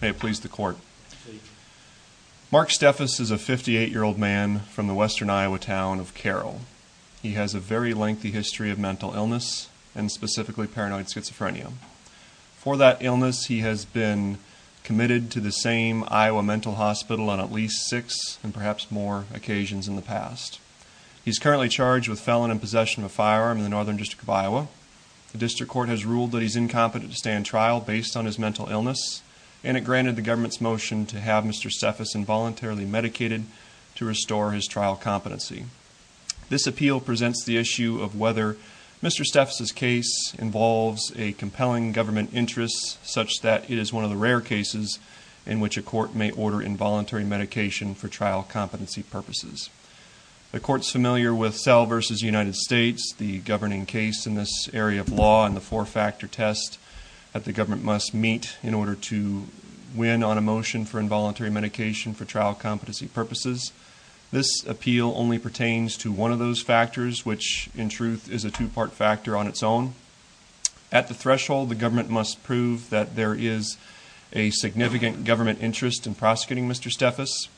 May it please the court. Mark Steffes is a 58 year old man from the western Iowa town of Carroll. He has a very lengthy history of mental illness and specifically paranoid schizophrenia. For that illness he has been committed to the same Iowa mental hospital on at least six and perhaps more occasions in the past. He's currently charged with felon in possession of a firearm in the northern district of Iowa. The district court has ruled that he's incompetent to stand trial based on his mental illness and it granted the government's motion to have Mr. Steffes involuntarily medicated to restore his trial competency. This appeal presents the issue of whether Mr. Steffes's case involves a compelling government interest such that it is one of the rare cases in which a court may order involuntary medication for trial competency purposes. The court's familiar with Sell v. United States, the governing case in this area of law and the must meet in order to win on a motion for involuntary medication for trial competency purposes. This appeal only pertains to one of those factors which in truth is a two-part factor on its own. At the threshold the government must prove that there is a significant government interest in prosecuting Mr. Steffes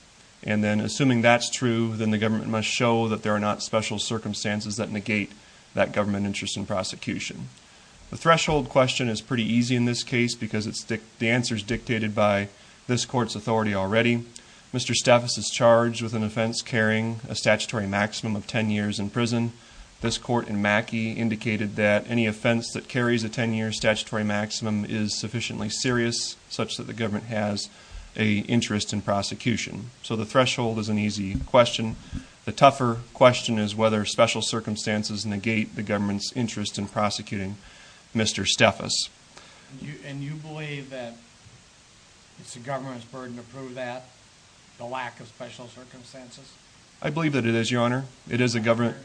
and then assuming that's true then the government must show that there are not special circumstances that negate that government interest in prosecution. The threshold question is pretty easy in this case because the answer is dictated by this court's authority already. Mr. Steffes is charged with an offense carrying a statutory maximum of 10 years in prison. This court in Mackey indicated that any offense that carries a 10-year statutory maximum is sufficiently serious such that the government has a interest in prosecution. So the threshold is an easy question. The tougher question is whether special circumstances negate the government's interest in prosecuting Mr. Steffes. And you believe that it's the government's burden to prove that the lack of special circumstances? I believe that it is your honor. It is a government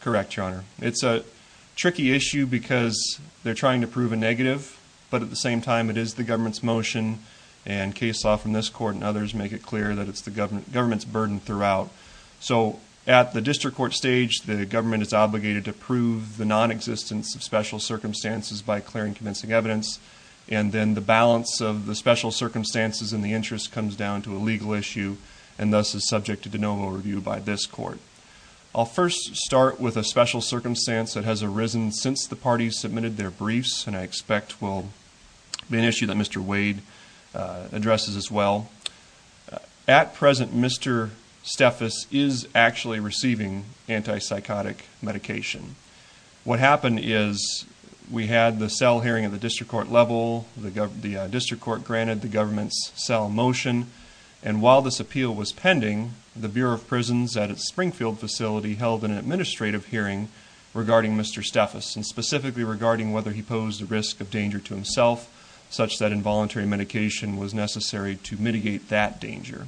correct your honor. It's a tricky issue because they're trying to prove a negative but at the same time it is the government's motion and case law from this court and others make it clear that it's the government government's burden throughout. So at the district court stage the government is obligated to prove the non-existence of special circumstances by clearing convincing evidence and then the balance of the special circumstances and the interest comes down to a legal issue and thus is subject to de novo review by this court. I'll first start with a special circumstance that has arisen since the parties submitted their briefs and I expect will be an issue that Mr. Wade addresses as well. At present Mr. Steffes is actually receiving anti-psychotic medication. What happened is we had the cell hearing at the district court level, the district court granted the government's cell motion and while this appeal was pending, the Bureau of Prisons at its Springfield facility held an administrative hearing regarding Mr. Steffes and specifically regarding whether he posed a risk of danger to himself such that involuntary medication was necessary to mitigate that danger.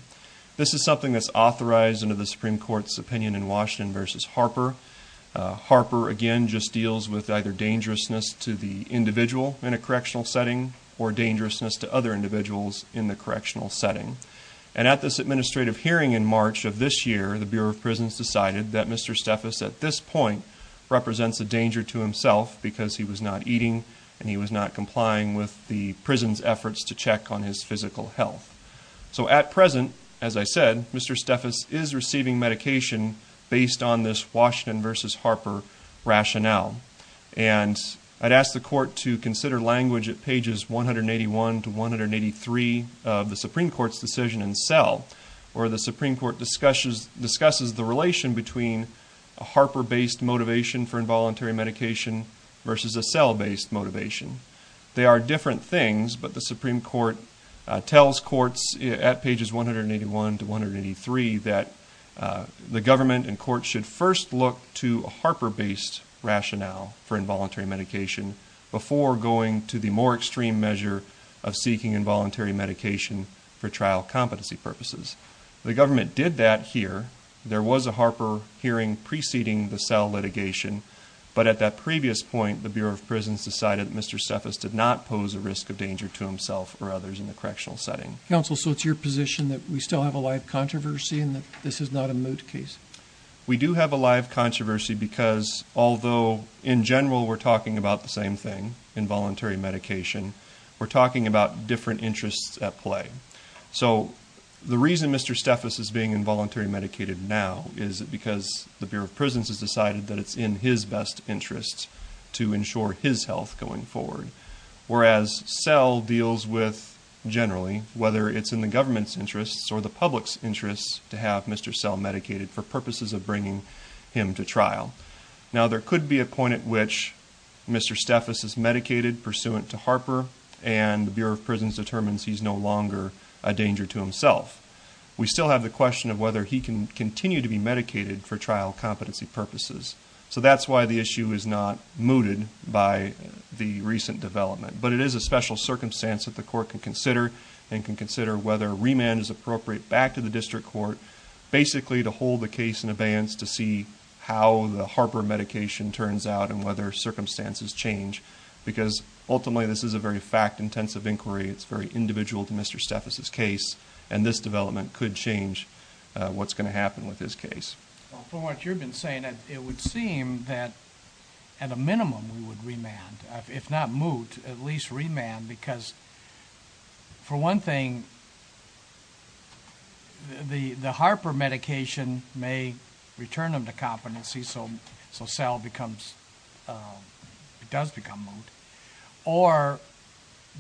This is something that's authorized under the Supreme Court's opinion in Washington versus Harper. Harper again just deals with either dangerousness to the individual in a correctional setting or dangerousness to other individuals in the correctional setting and at this administrative hearing in March of this year the Bureau of Prisons decided that Mr. Steffes at this point represents a danger to himself because he was not eating and he was not complying with the prison's efforts to check on his physical health. So at present as I said Mr. Steffes is receiving medication based on this Washington versus Harper rationale and I'd ask the court to consider language at pages 181 to 183 of the Supreme Court's decision in cell where the Supreme Court discusses the relation between a Harper-based motivation for involuntary medication versus a cell-based motivation. They are different things but the Supreme Court tells courts at pages 181 to 183 that the government and courts should first look to a Harper-based rationale for involuntary medication before going to the more extreme measure of seeking involuntary medication for trial competency purposes. The government did that here. There was a Harper hearing preceding the cell litigation but at that previous point the Bureau of Prisons decided Mr. Steffes did not pose a risk of danger to himself or others in the correctional setting. Counsel so it's your position that we still have a live controversy and that this is not a moot case? We do have a live controversy because although in general we're talking about the same thing involuntary medication we're talking about different interests at play. So the reason Mr. Steffes is being involuntary medicated now is because the Bureau of Prisons has decided that it's in his best interest to ensure his health going forward. Whereas cell deals with generally whether it's in the government's interests or the public's interests to have Mr. Sell medicated for purposes of bringing him to trial. Now there could be a point at which Mr. Steffes is medicated pursuant to Harper and the Bureau of Prisons determines he's no longer a danger to himself. We still have the question of whether he can continue to be medicated for trial competency purposes. So that's why the issue is not mooted by the recent development. But it is a special circumstance that the court can consider and can consider whether remand is appropriate back to the district court basically to hold the case in abeyance to see how the Harper medication turns out and whether circumstances change. Because ultimately this is a very fact-intensive inquiry. It's very individual to Mr. Steffes's case and this development could change what's going to happen with this case. For what you've been saying it would seem that at a minimum we would remand if not moot at least remand because for one thing the the Harper medication may return them to competency so so cell becomes it does become moot. Or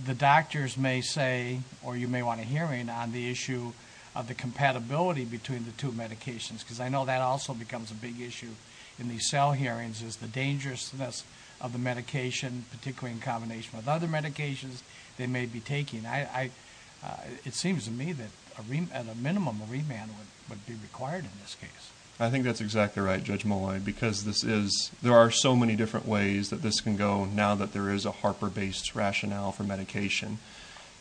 the doctors may say or you may want a hearing on the issue of the compatibility between the two medications because I know that also becomes a big issue in these cell hearings is the dangerousness of the medication particularly in combination with other medications they may be taking. I it seems to me that at a minimum remand would would be required in this case. I think that's exactly right Judge Molloy because this is there are so many different ways that this can go now that there is a Harper based rationale for medication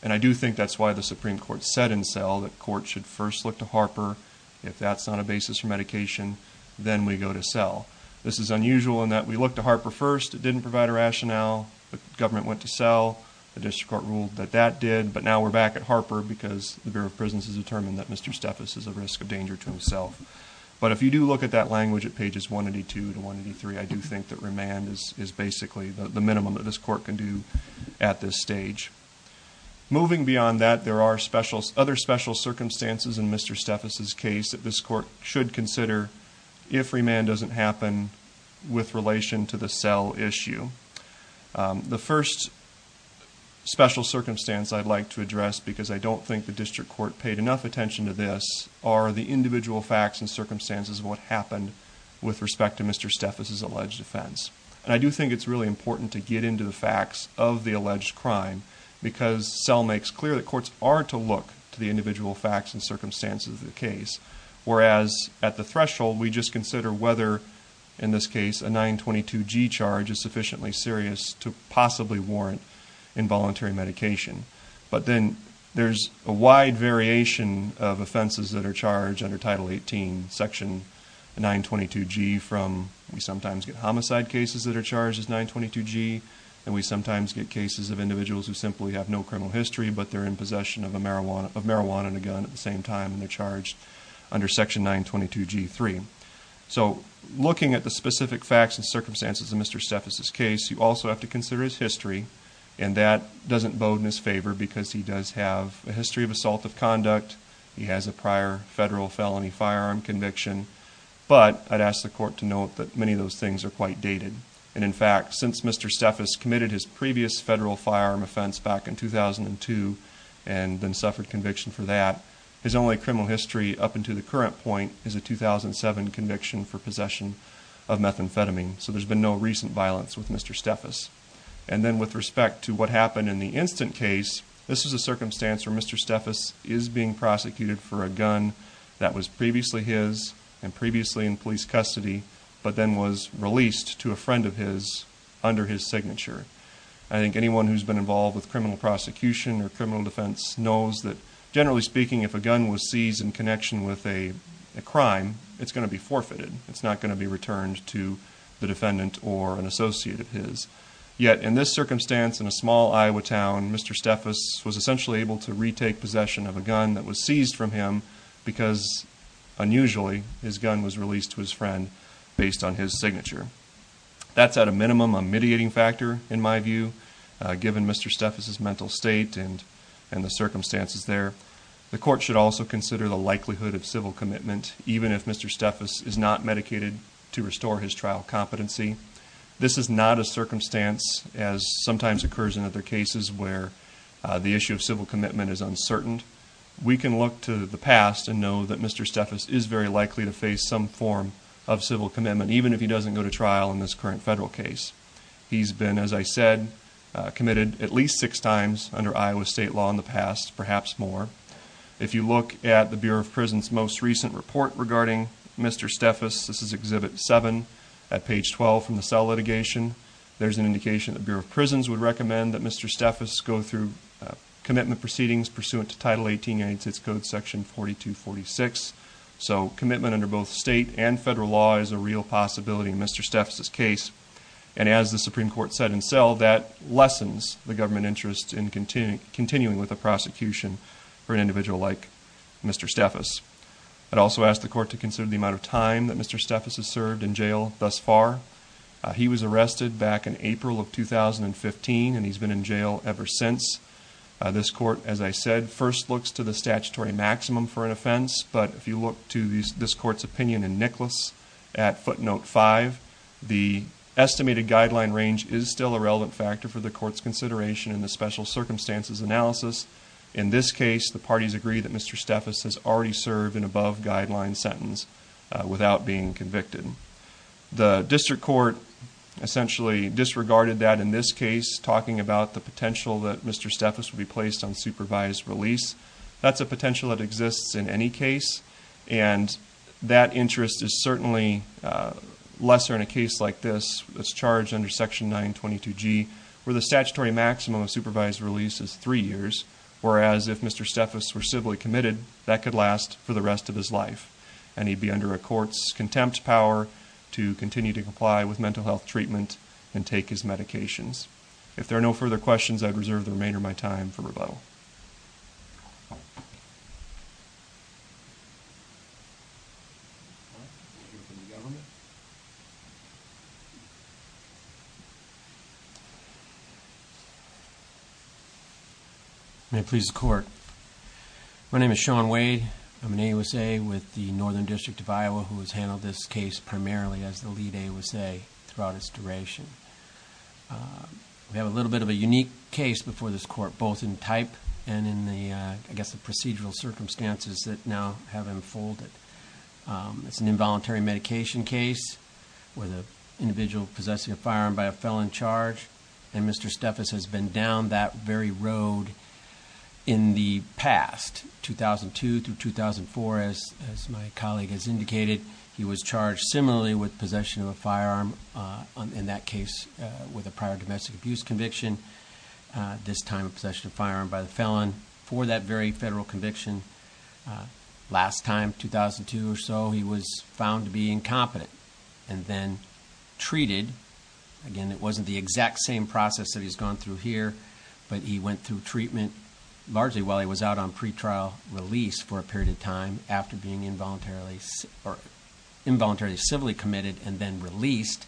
and I do think that's why the Supreme Court said in cell that court should first look to Harper if that's not a basis for medication then we go to cell. This is unusual in that we look to Harper first it didn't provide a rationale the government went to cell the district court ruled that that did but now we're back at Harper because the Bureau of Prisons has determined that Mr. Steffes is a risk of danger to himself. But if you do look at that language at pages 182 to 183 I do think that remand is basically the minimum that this court can do at this stage. Moving beyond that there are special other special circumstances in Mr. Steffes' case that this court should consider if remand doesn't happen with relation to the cell issue. The first special circumstance I'd like to address because I don't think the district court paid enough attention to this are the individual facts and circumstances of what happened with respect to Mr. Steffes' alleged offense. And I do think it's really important to get into the facts of the alleged crime because cell makes clear that courts are to look to the individual facts and circumstances of the case whereas at the threshold we just consider whether in this case a 922g charge is sufficiently serious to possibly warrant involuntary medication. But then there's a wide variation of offenses that are charged under title 18 section 922g from we sometimes get homicide cases that are charged as 922g and we sometimes get cases of individuals who simply have no criminal history but they're in possession of marijuana of marijuana and a gun at the same time and they're charged under section 922g3. So looking at the specific facts and circumstances of Mr. Steffes' case you also have to consider his history and that doesn't bode in his favor because he does have a history of assault of conduct he has a prior federal felony firearm conviction but I'd ask the court to note that many of those things are quite dated and in fact since Mr. Steffes committed his previous federal firearm offense back in 2002 and then suffered conviction for that his only criminal history up into the current point is a 2007 conviction for possession of methamphetamine so there's been no recent violence with Mr. Steffes. And then with respect to what happened in the instant case this is a circumstance where Mr. Steffes is being prosecuted for a gun that was previously his and previously in police custody but then was released to a friend of his under his signature. I think anyone who's been involved with criminal prosecution or criminal defense knows that generally speaking if a gun was seized in connection with a a crime it's going to be forfeited it's not going to be returned to the defendant or an associate of his. Yet in this circumstance in a small Iowa town Mr. Steffes was essentially able to retake possession of a gun that was seized from him because unusually his gun was released to his friend based on his signature. That's at a minimum a mediating factor in my view given Mr. Steffes' mental state and and the circumstances there. The court should also consider the likelihood of civil commitment even if Mr. Steffes is not medicated to restore his trial competency. This is not a circumstance as sometimes occurs in other cases where the issue of civil commitment is uncertain. We can look to the past and know that Mr. Steffes is very likely to face some form of civil commitment even if he doesn't go to trial in this current federal case. He's been as I said committed at least six times under Iowa state law in the past perhaps more. If you look at the Bureau of Prison's most recent report regarding Mr. Steffes, this is Exhibit 7 at page 12 from the cell litigation, there's an indication the Bureau of Prisons would recommend that Mr. Steffes go through commitment proceedings pursuant to Title 18 United States Code Section 4246. So commitment under both state and federal law is a real possibility in Mr. Steffes' case and as the Supreme Court said in cell that lessens the government interest in continuing with a prosecution for an individual like Mr. Steffes. I'd also ask the court to consider the amount of time that Mr. Steffes has served in jail thus far. He was arrested back in April of 2015 and he's been in jail ever since. This court as I said first looks to the statutory maximum for an offense but if you look to this court's opinion in Nicholas at footnote 5, the estimated guideline range is still a relevant factor for the court's consideration in the special circumstances analysis. In this case the parties agree that Mr. Steffes has already served an above guideline sentence without being convicted. The district court essentially disregarded that in this case talking about the potential that Mr. Steffes would be placed on supervised release. That's a potential that exists in any case and that interest is certainly lesser in a case like this that's charged under Section 922G where the statutory that could last for the rest of his life and he'd be under a court's contempt power to continue to comply with mental health treatment and take his medications. If there are no further questions I'd reserve the remainder of my time for rebuttal. May it please the court. My name is Sean Wade. I'm an AUSA with the Northern District of Iowa who has handled this case primarily as the lead AUSA throughout its duration. We have a little bit of a unique case before this court both in type and in the I guess the procedural circumstances that now have unfolded. It's an involuntary medication case with an individual possessing a firearm by a felon charge and Mr. Steffes has been down that very road in the past, 2002 through 2004 as my colleague has indicated. He was charged similarly with possession of a firearm in that case with a prior domestic abuse conviction, this time possession of a firearm by the felon for that very federal conviction. Last time, 2002 or so, he was found to be incompetent and then treated. Again, it wasn't the exact same process that he's gone through here but he went through treatment largely while he was out on pretrial release for a period of time after being involuntarily or involuntarily civilly committed and then released.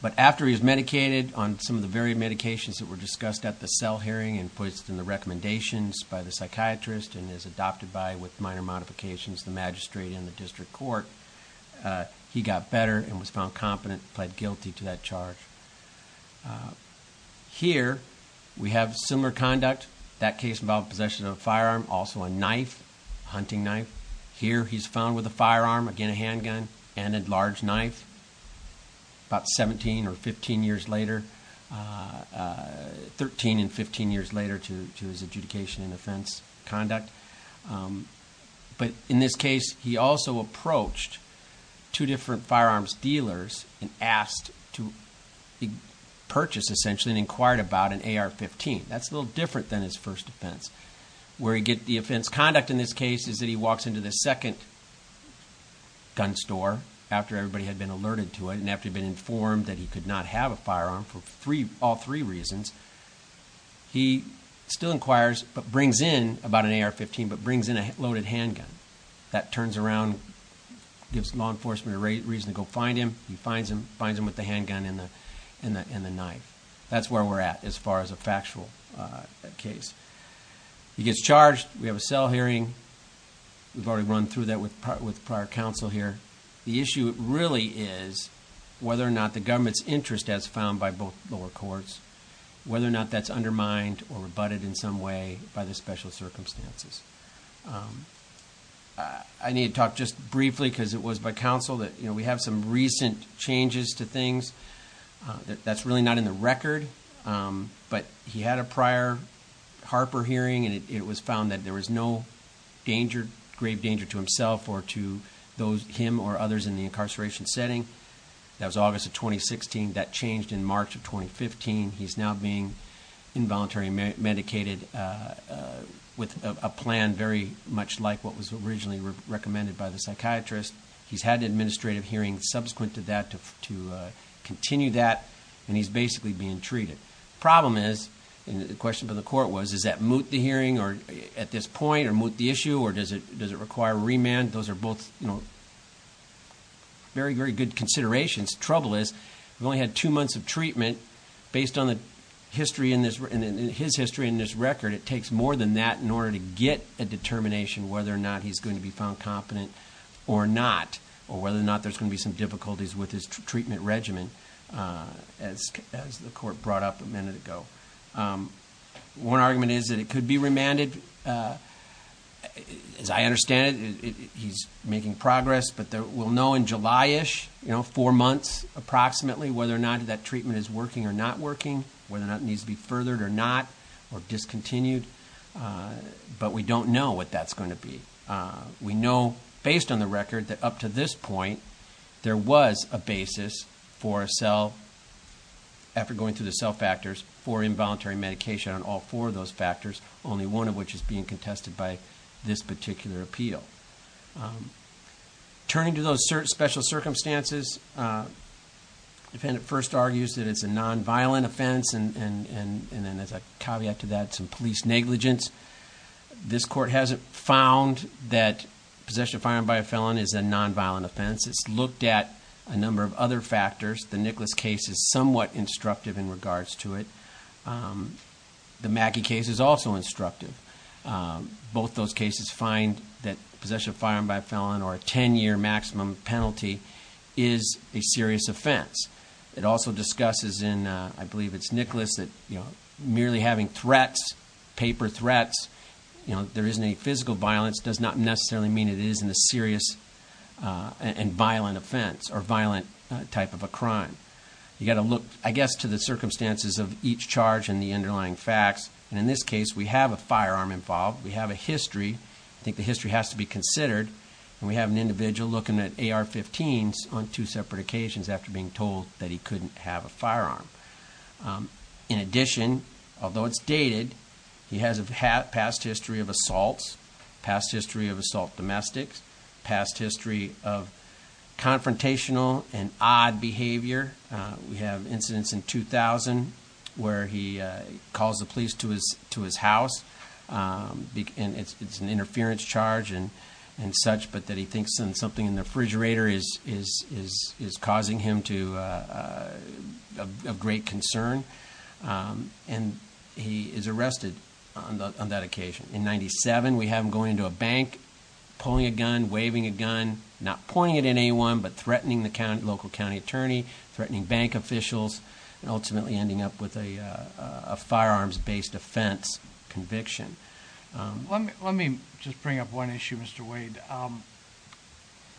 But after he was medicated on some of the very medications that were discussed at the cell hearing and placed in the recommendations by the psychiatrist and is adopted by with minor modifications the magistrate in the district court, he got better and was found competent, pled guilty to that charge. Here, we have similar conduct. That case involved possession of a firearm, also a knife, hunting knife. Here, he's found with a firearm, again a handgun and a large knife about 17 or 15 years later, 13 and 15 years later to his adjudication and offense conduct. But in this case, he also approached two different firearms dealers and asked to purchase essentially and inquired about an AR-15. That's a little different than his first offense where he get the offense conduct in this case is that he walks into the second gun store after everybody had been alerted to it and after he'd been informed that he could not have a firearm for all three reasons, he still inquires but brings in about an AR-15 but brings in a loaded handgun. That turns around, gives law enforcement a reason to go find him. He finds him with the handgun and the knife. That's where we're at as far as a factual case. He gets charged. We have a cell hearing. We've already run through that with prior counsel here. The issue really is whether or not the government's interest as found by both lower courts, whether or not that's undermined or rebutted in some way by the special circumstances. I need to talk just briefly because it was by changes to things. That's really not in the record but he had a prior Harper hearing and it was found that there was no grave danger to himself or to him or others in the incarceration setting. That was August of 2016. That changed in March of 2015. He's now being involuntarily medicated with a plan very much like what was originally recommended by the psychiatrist. He's had an administrative hearing subsequent to that to continue that and he's basically being treated. The problem is, and the question from the court was, is that moot the hearing at this point or moot the issue or does it require remand? Those are both very, very good considerations. Trouble is, we've only had two months of treatment. Based on his history in this record, it takes more than that in order to get a determination whether or not he's going to be found competent or not or whether or not there's going to be some difficulties with his treatment regimen as the court brought up a minute ago. One argument is that it could be remanded. As I understand it, he's making progress but we'll know in July-ish, four months approximately, whether or not that treatment is working or not working, whether or not it needs to be furthered or discontinued, but we don't know what that's going to be. We know, based on the record, that up to this point there was a basis for a cell, after going through the cell factors, for involuntary medication on all four of those factors, only one of which is being contested by this particular appeal. Turning to those special circumstances, the defendant first argues that it's a non-violent offense and then as a caveat to that, some police negligence. This court hasn't found that possession of firearm by a felon is a non-violent offense. It's looked at a number of other factors. The Nicholas case is somewhat instructive in regards to it. The Mackey case is also instructive. Both those cases find that a non-violent offense is a serious offense. It also discusses in, I believe it's Nicholas, that merely having threats, paper threats, there isn't any physical violence, does not necessarily mean it isn't a serious and violent offense or violent type of a crime. You got to look, I guess, to the circumstances of each charge and the underlying facts. In this case, we have a firearm involved. We have a history. I think the history has to be considered. We have an individual looking at AR-15s on two separate occasions after being told that he couldn't have a firearm. In addition, although it's dated, he has a past history of assaults, past history of assault domestics, past history of confrontational and odd behavior. We have incidents in 2000 where he calls the police to his house and it's an interference charge and such, but that he thinks something in the refrigerator is causing him to a great concern. He is arrested on that occasion. In 97, we have him going into a bank, pulling a gun, waving a gun, not pointing it at anyone, but threatening the local county attorney, threatening bank officials, and ultimately ending up with a firearms-based offense conviction. Let me just bring up one issue, Mr. Wade.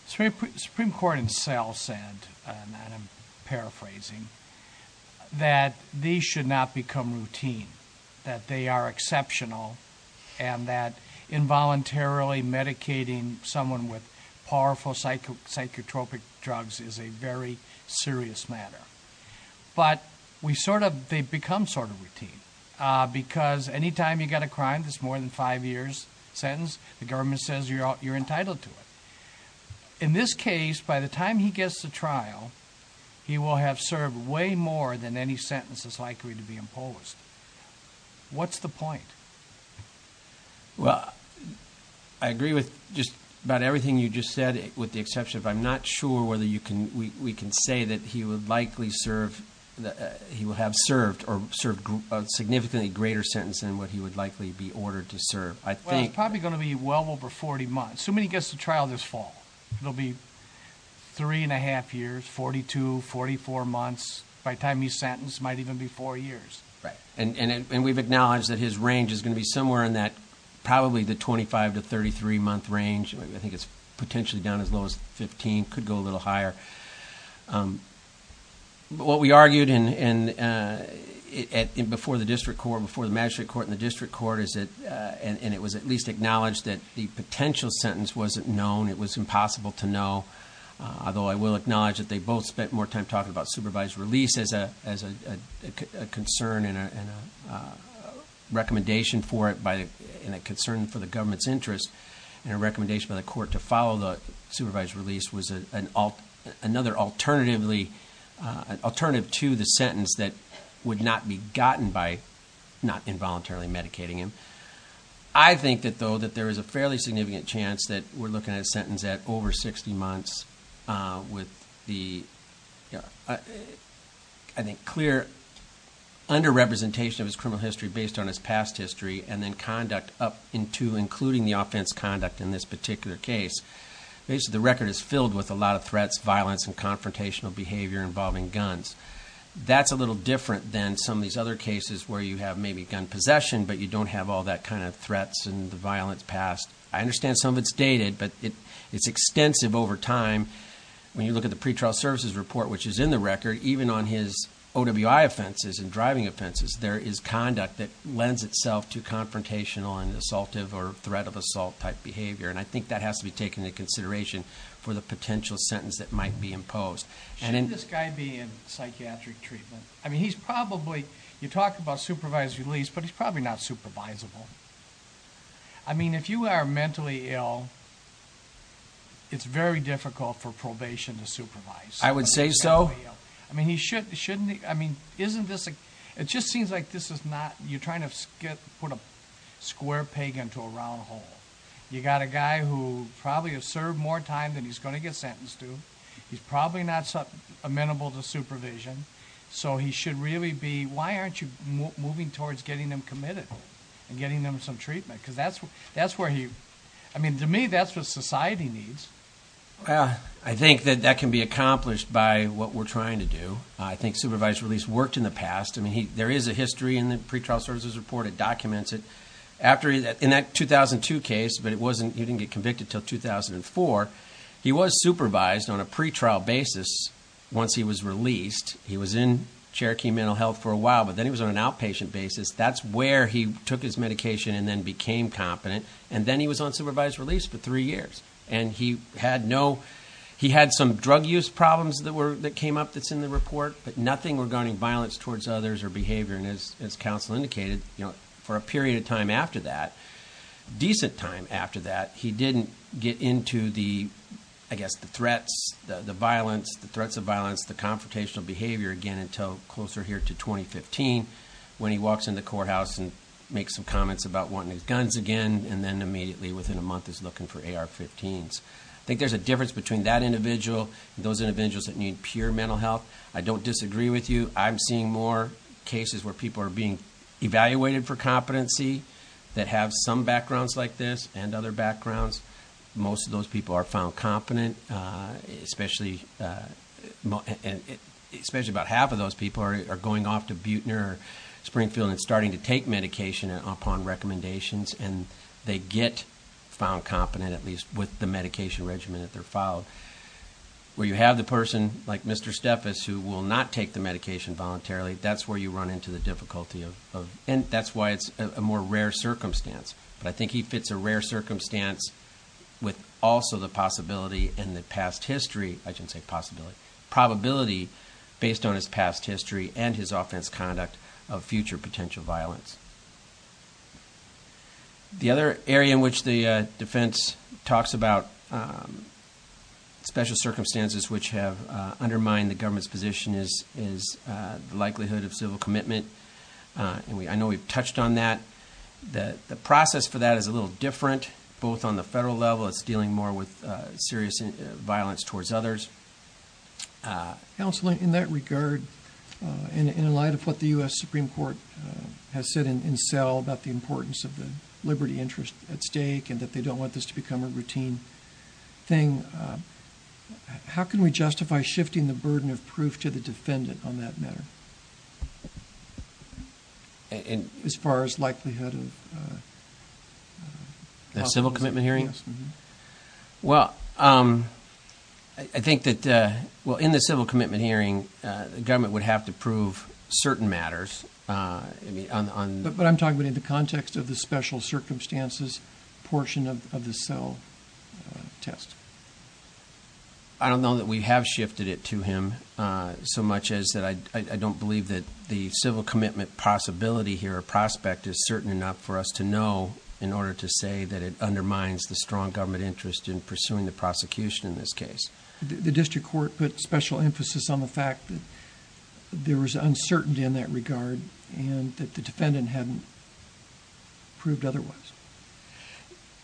The Supreme Court itself said, and I'm paraphrasing, that these should not become routine, that they are exceptional, and that involuntarily medicating someone with powerful psychotropic drugs is a very serious matter. But they become sort of routine because anytime you get a crime that's more than five years sentence, the government says you're entitled to it. In this case, by the time he gets to trial, he will have served way more than any sentences likely to be imposed. What's the point? Well, I agree with just about everything you just said, with the exception of I'm not sure whether we can say that he will have served or served a significantly greater sentence than what he would likely be ordered to serve. I think- Well, it's probably going to be well over 40 months. So when he gets to trial this fall, it'll be three and a half years, 42, 44 months. By the time he's sentenced, it might even be four years. Right. And we've acknowledged that his range is going to be somewhere in that, probably the 25 to 33 month range. I think it's potentially down as low as 15, could go a little higher. But what we argued before the magistrate court and the district court is that, and it was at least acknowledged that the potential sentence wasn't known, it was impossible to know. Although I will acknowledge that they both spent more time talking about supervised release as a concern and a recommendation for it and a concern for the government's interest and a recommendation by the court to follow the supervised release was another alternative to the sentence that would not be gotten by not involuntarily medicating him. I think that though, that there is a fairly significant chance that we're looking at a sentence at over 60 months with the, I think, clear under-representation of his criminal history based on his past history and then conduct up into including the offense conduct in this particular case. Basically, the record is filled with a lot of threats, violence, and confrontational behavior involving guns. That's a little different than some of these other cases where you have maybe gun possession, but you don't have all that kind of threats and the violence past. I understand some of it's dated, but it's extensive over time. When you look at the pretrial services report, which is in the record, even on his OWI offenses and driving offenses, there is conduct that lends itself to confrontational and assaultive or threat of assault type behavior. And I think that has to be taken into consideration for the potential sentence that might be imposed. Should this guy be in psychiatric treatment? I mean, he's probably, you talk about supervised release, but he's probably not supervisable. I mean, if you are mentally ill, it's very difficult for probation to supervise. I would say so. I mean, shouldn't he, I mean, isn't this, it just seems like this is not, you're trying to put a square peg into a round hole. You got a guy who probably has served more time than he's going to get sentenced to. He's probably not amenable to supervision. So he should really be, why aren't you moving towards getting them committed and getting them some treatment? Because that's where he, I mean, to me, that's what society needs. Well, I think that that can be accomplished by what we're trying to do. I think supervised release worked in the past. I mean, there is a history in the pretrial services report. It documents it. After that, in that 2002 case, but it wasn't, he didn't get convicted until 2004. He was supervised on a pretrial basis. Once he was released, he was in Cherokee mental health for a while, but then he was on an outpatient basis. That's where he took his medication and then became competent. And then he was on supervised release for three years. And he had no, he had some drug use problems that came up that's in the report, but nothing regarding violence towards others or behavior. And as counsel indicated, for a period of time after that, decent time after that, he didn't get into the, I guess, the threats, the violence, the threats of violence, the confrontational behavior again, until closer here to 2015, when he walks into the courthouse and makes some comments about wanting his guns again. And then immediately within a month is looking for AR-15s. I think there's a difference between that individual and those individuals that need pure mental health. I don't disagree with you. I'm seeing more cases where people are being evaluated for competency that have some backgrounds like this and other backgrounds. Most of those people are found competent, especially, especially about half of those people are going off to Buechner or Springfield and starting to take medication upon recommendations and they get found competent, at least with the medication regimen that they're followed. Where you have the person like Mr. Steffes who will not take the medication voluntarily, that's where you run into the difficulty of, and that's why it's a more rare circumstance. But I think he fits a rare circumstance with also the possibility and the past history, I shouldn't say possibility, probability based on his past history and his offense conduct of future potential violence. The other area in which the defense talks about special circumstances which have undermined the government's position is the likelihood of civil commitment. I know we've touched on that. The process for that is a little different, both on the federal level, it's dealing more with serious violence towards others. Counselor, in that regard, in light of what the U.S. Supreme Court has said in cell about the importance of the liberty interest at stake and that they don't want this to become a routine thing, how can we justify shifting the burden of proof to the defendant on that matter? As far as likelihood of... The civil commitment hearing? Yes. Well, I think that in the civil commitment hearing, the government would have to prove certain matters. But I'm talking about in the context of the special circumstances portion of the cell test. I don't know that we have shifted it to him so much as that I don't believe that the civil commitment possibility here or prospect is certain enough for us to know in order to say that it is a strong government interest in pursuing the prosecution in this case. The district court put special emphasis on the fact that there was uncertainty in that regard and that the defendant hadn't proved otherwise.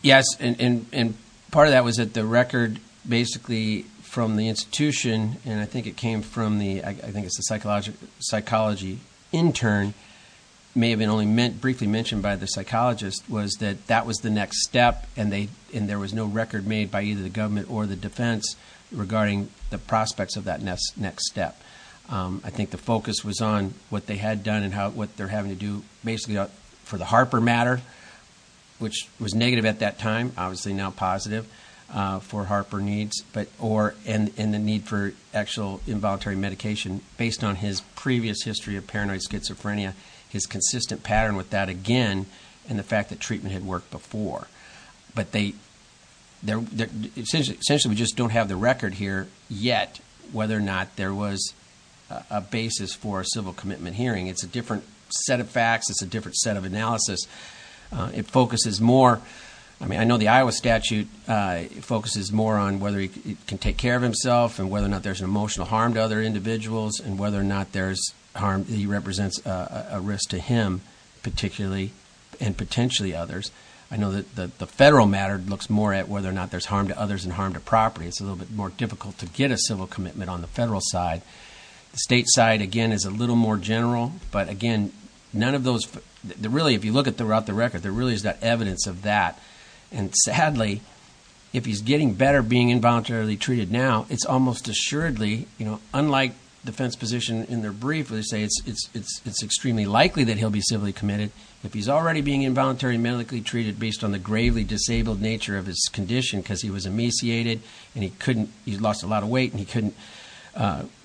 Yes. And part of that was that the record basically from the institution, and I think it came from the, I think it's a psychology intern, may have been only briefly mentioned by the there was no record made by either the government or the defense regarding the prospects of that next step. I think the focus was on what they had done and what they're having to do basically for the Harper matter, which was negative at that time, obviously now positive for Harper needs, but or in the need for actual involuntary medication based on his previous history of paranoid schizophrenia, his consistent pattern with that again, and the fact that treatment had worked before. But they, they're essentially, essentially we just don't have the record here yet, whether or not there was a basis for a civil commitment hearing. It's a different set of facts. It's a different set of analysis. It focuses more, I mean, I know the Iowa statute focuses more on whether he can take care of himself and whether or not there's an emotional harm to other individuals and whether or not there's harm, he represents a risk to him, particularly and potentially others. I know that the federal matter looks more at whether or not there's harm to others and harm to property. It's a little bit more difficult to get a civil commitment on the federal side. The state side, again, is a little more general, but again, none of those really, if you look at the route, the record, there really is that evidence of that. And sadly, if he's getting better being involuntarily treated now, it's almost assuredly, you know, unlike defense position in their brief where they say it's, it's, it's, it's extremely likely that he'll be civilly committed. If he's already being involuntarily medically treated based on the gravely disabled nature of his condition, because he was emaciated and he couldn't, he lost a lot of weight and he couldn't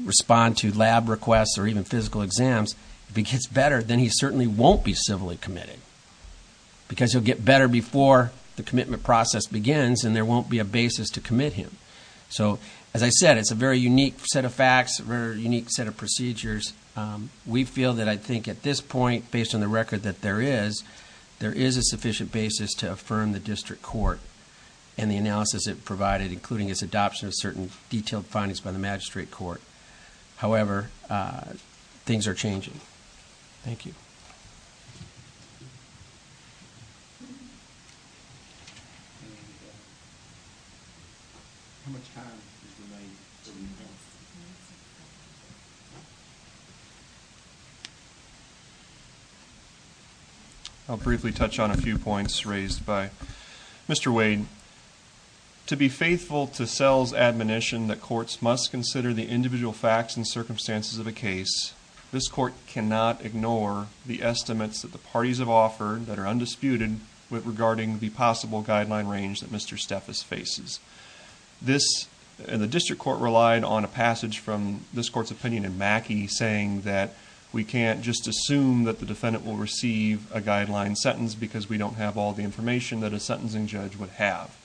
respond to lab requests or even physical exams, if he gets better, then he certainly won't be civilly committed because he'll get better before the commitment process begins and there won't be a basis to commit him. So, as I said, it's a very unique set of facts, very unique set of procedures. We feel that I think at this point, based on the record that there is, there is a sufficient basis to affirm the district court and the analysis it provided, including its adoption of certain detailed findings by the magistrate court. However, things are changing. Thank you. I'll briefly touch on a few points raised by Mr. Wade. To be faithful to Sells' admonition that courts must consider the individual facts and circumstances of a case, this court cannot ignore the estimates that the parties have offered that are undisputed with regarding the possible guideline range that Mr. Steffes faces. This, the district court relied on a passage from this court's opinion in Mackey saying that we can't just assume that the defendant will receive a guideline sentence because we don't have all the information that a sentencing judge would have.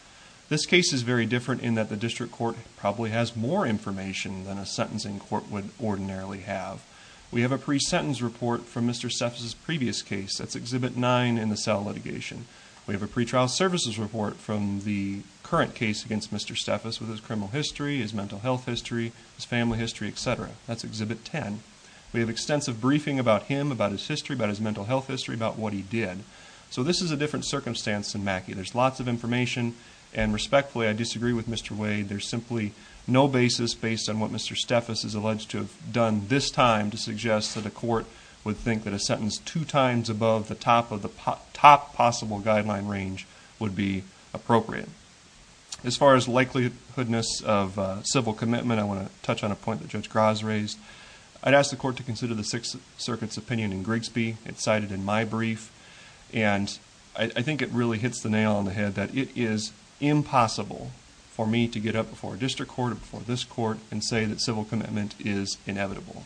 This case is very different in that the district court probably has more information than a sentencing court would ordinarily have. We have a pre-sentence report from Mr. Steffes' previous case. That's Exhibit 9 in the Sell Litigation. We have a pretrial services report from the current case against Mr. Steffes with his criminal history, his mental health history, his family history, etc. That's Exhibit 10. We have extensive briefing about him, about his history, about his mental health history, about what he did. So this is a different circumstance than Mackey. There's lots of information and respectfully, I disagree with Mr. Wade. There's simply no basis based on what Mr. Steffes is alleged to have done this time to suggest that a court would think that a sentence two times above the top of the top possible guideline range would be appropriate. As far as likelihoodness of civil commitment, I want to touch on a point that Judge Gras raised. I'd ask the court to consider the Sixth Circuit's opinion in Grigsby. It's cited in my brief and I think it really hits the nail on the head that it is impossible for me to get up before a district court or before this court and say that civil commitment is inevitable.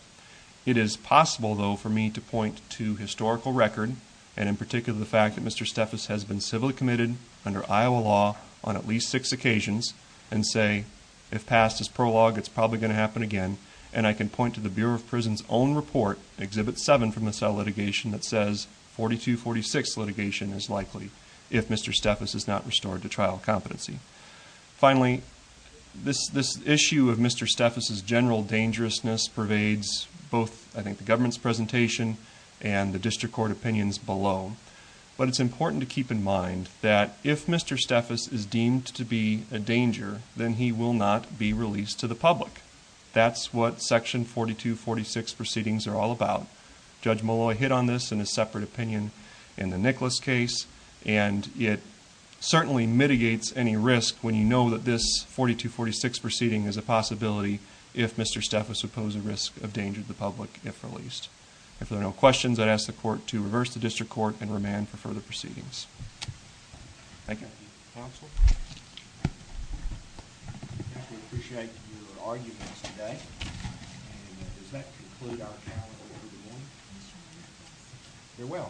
It is possible, though, for me to point to historical record and in particular the fact that Mr. Steffes has been civilly committed under Iowa law on at least six occasions and say, if passed as prologue, it's probably going to happen again. And I can point to the Bureau of Prison's own report, Exhibit 7 from the cell litigation that says 4246 litigation is likely if Mr. Steffes is not restored to trial competency. Finally, this issue of Mr. Steffes' general dangerousness pervades both, I think, the government's presentation and the district court opinions below. But it's important to keep in mind that if Mr. Steffes is deemed to be a danger, then he will not be released to the public. That's what Section 4246 proceedings are all about. Judge Molloy hit on this in a separate opinion in the Nicholas case and it certainly mitigates any risk when you know that this 4246 proceeding is a possibility if Mr. Steffes would pose a risk of danger to the public if released. If there are no questions, I'd ask the court to reverse the district court and remand for further proceedings. Thank you.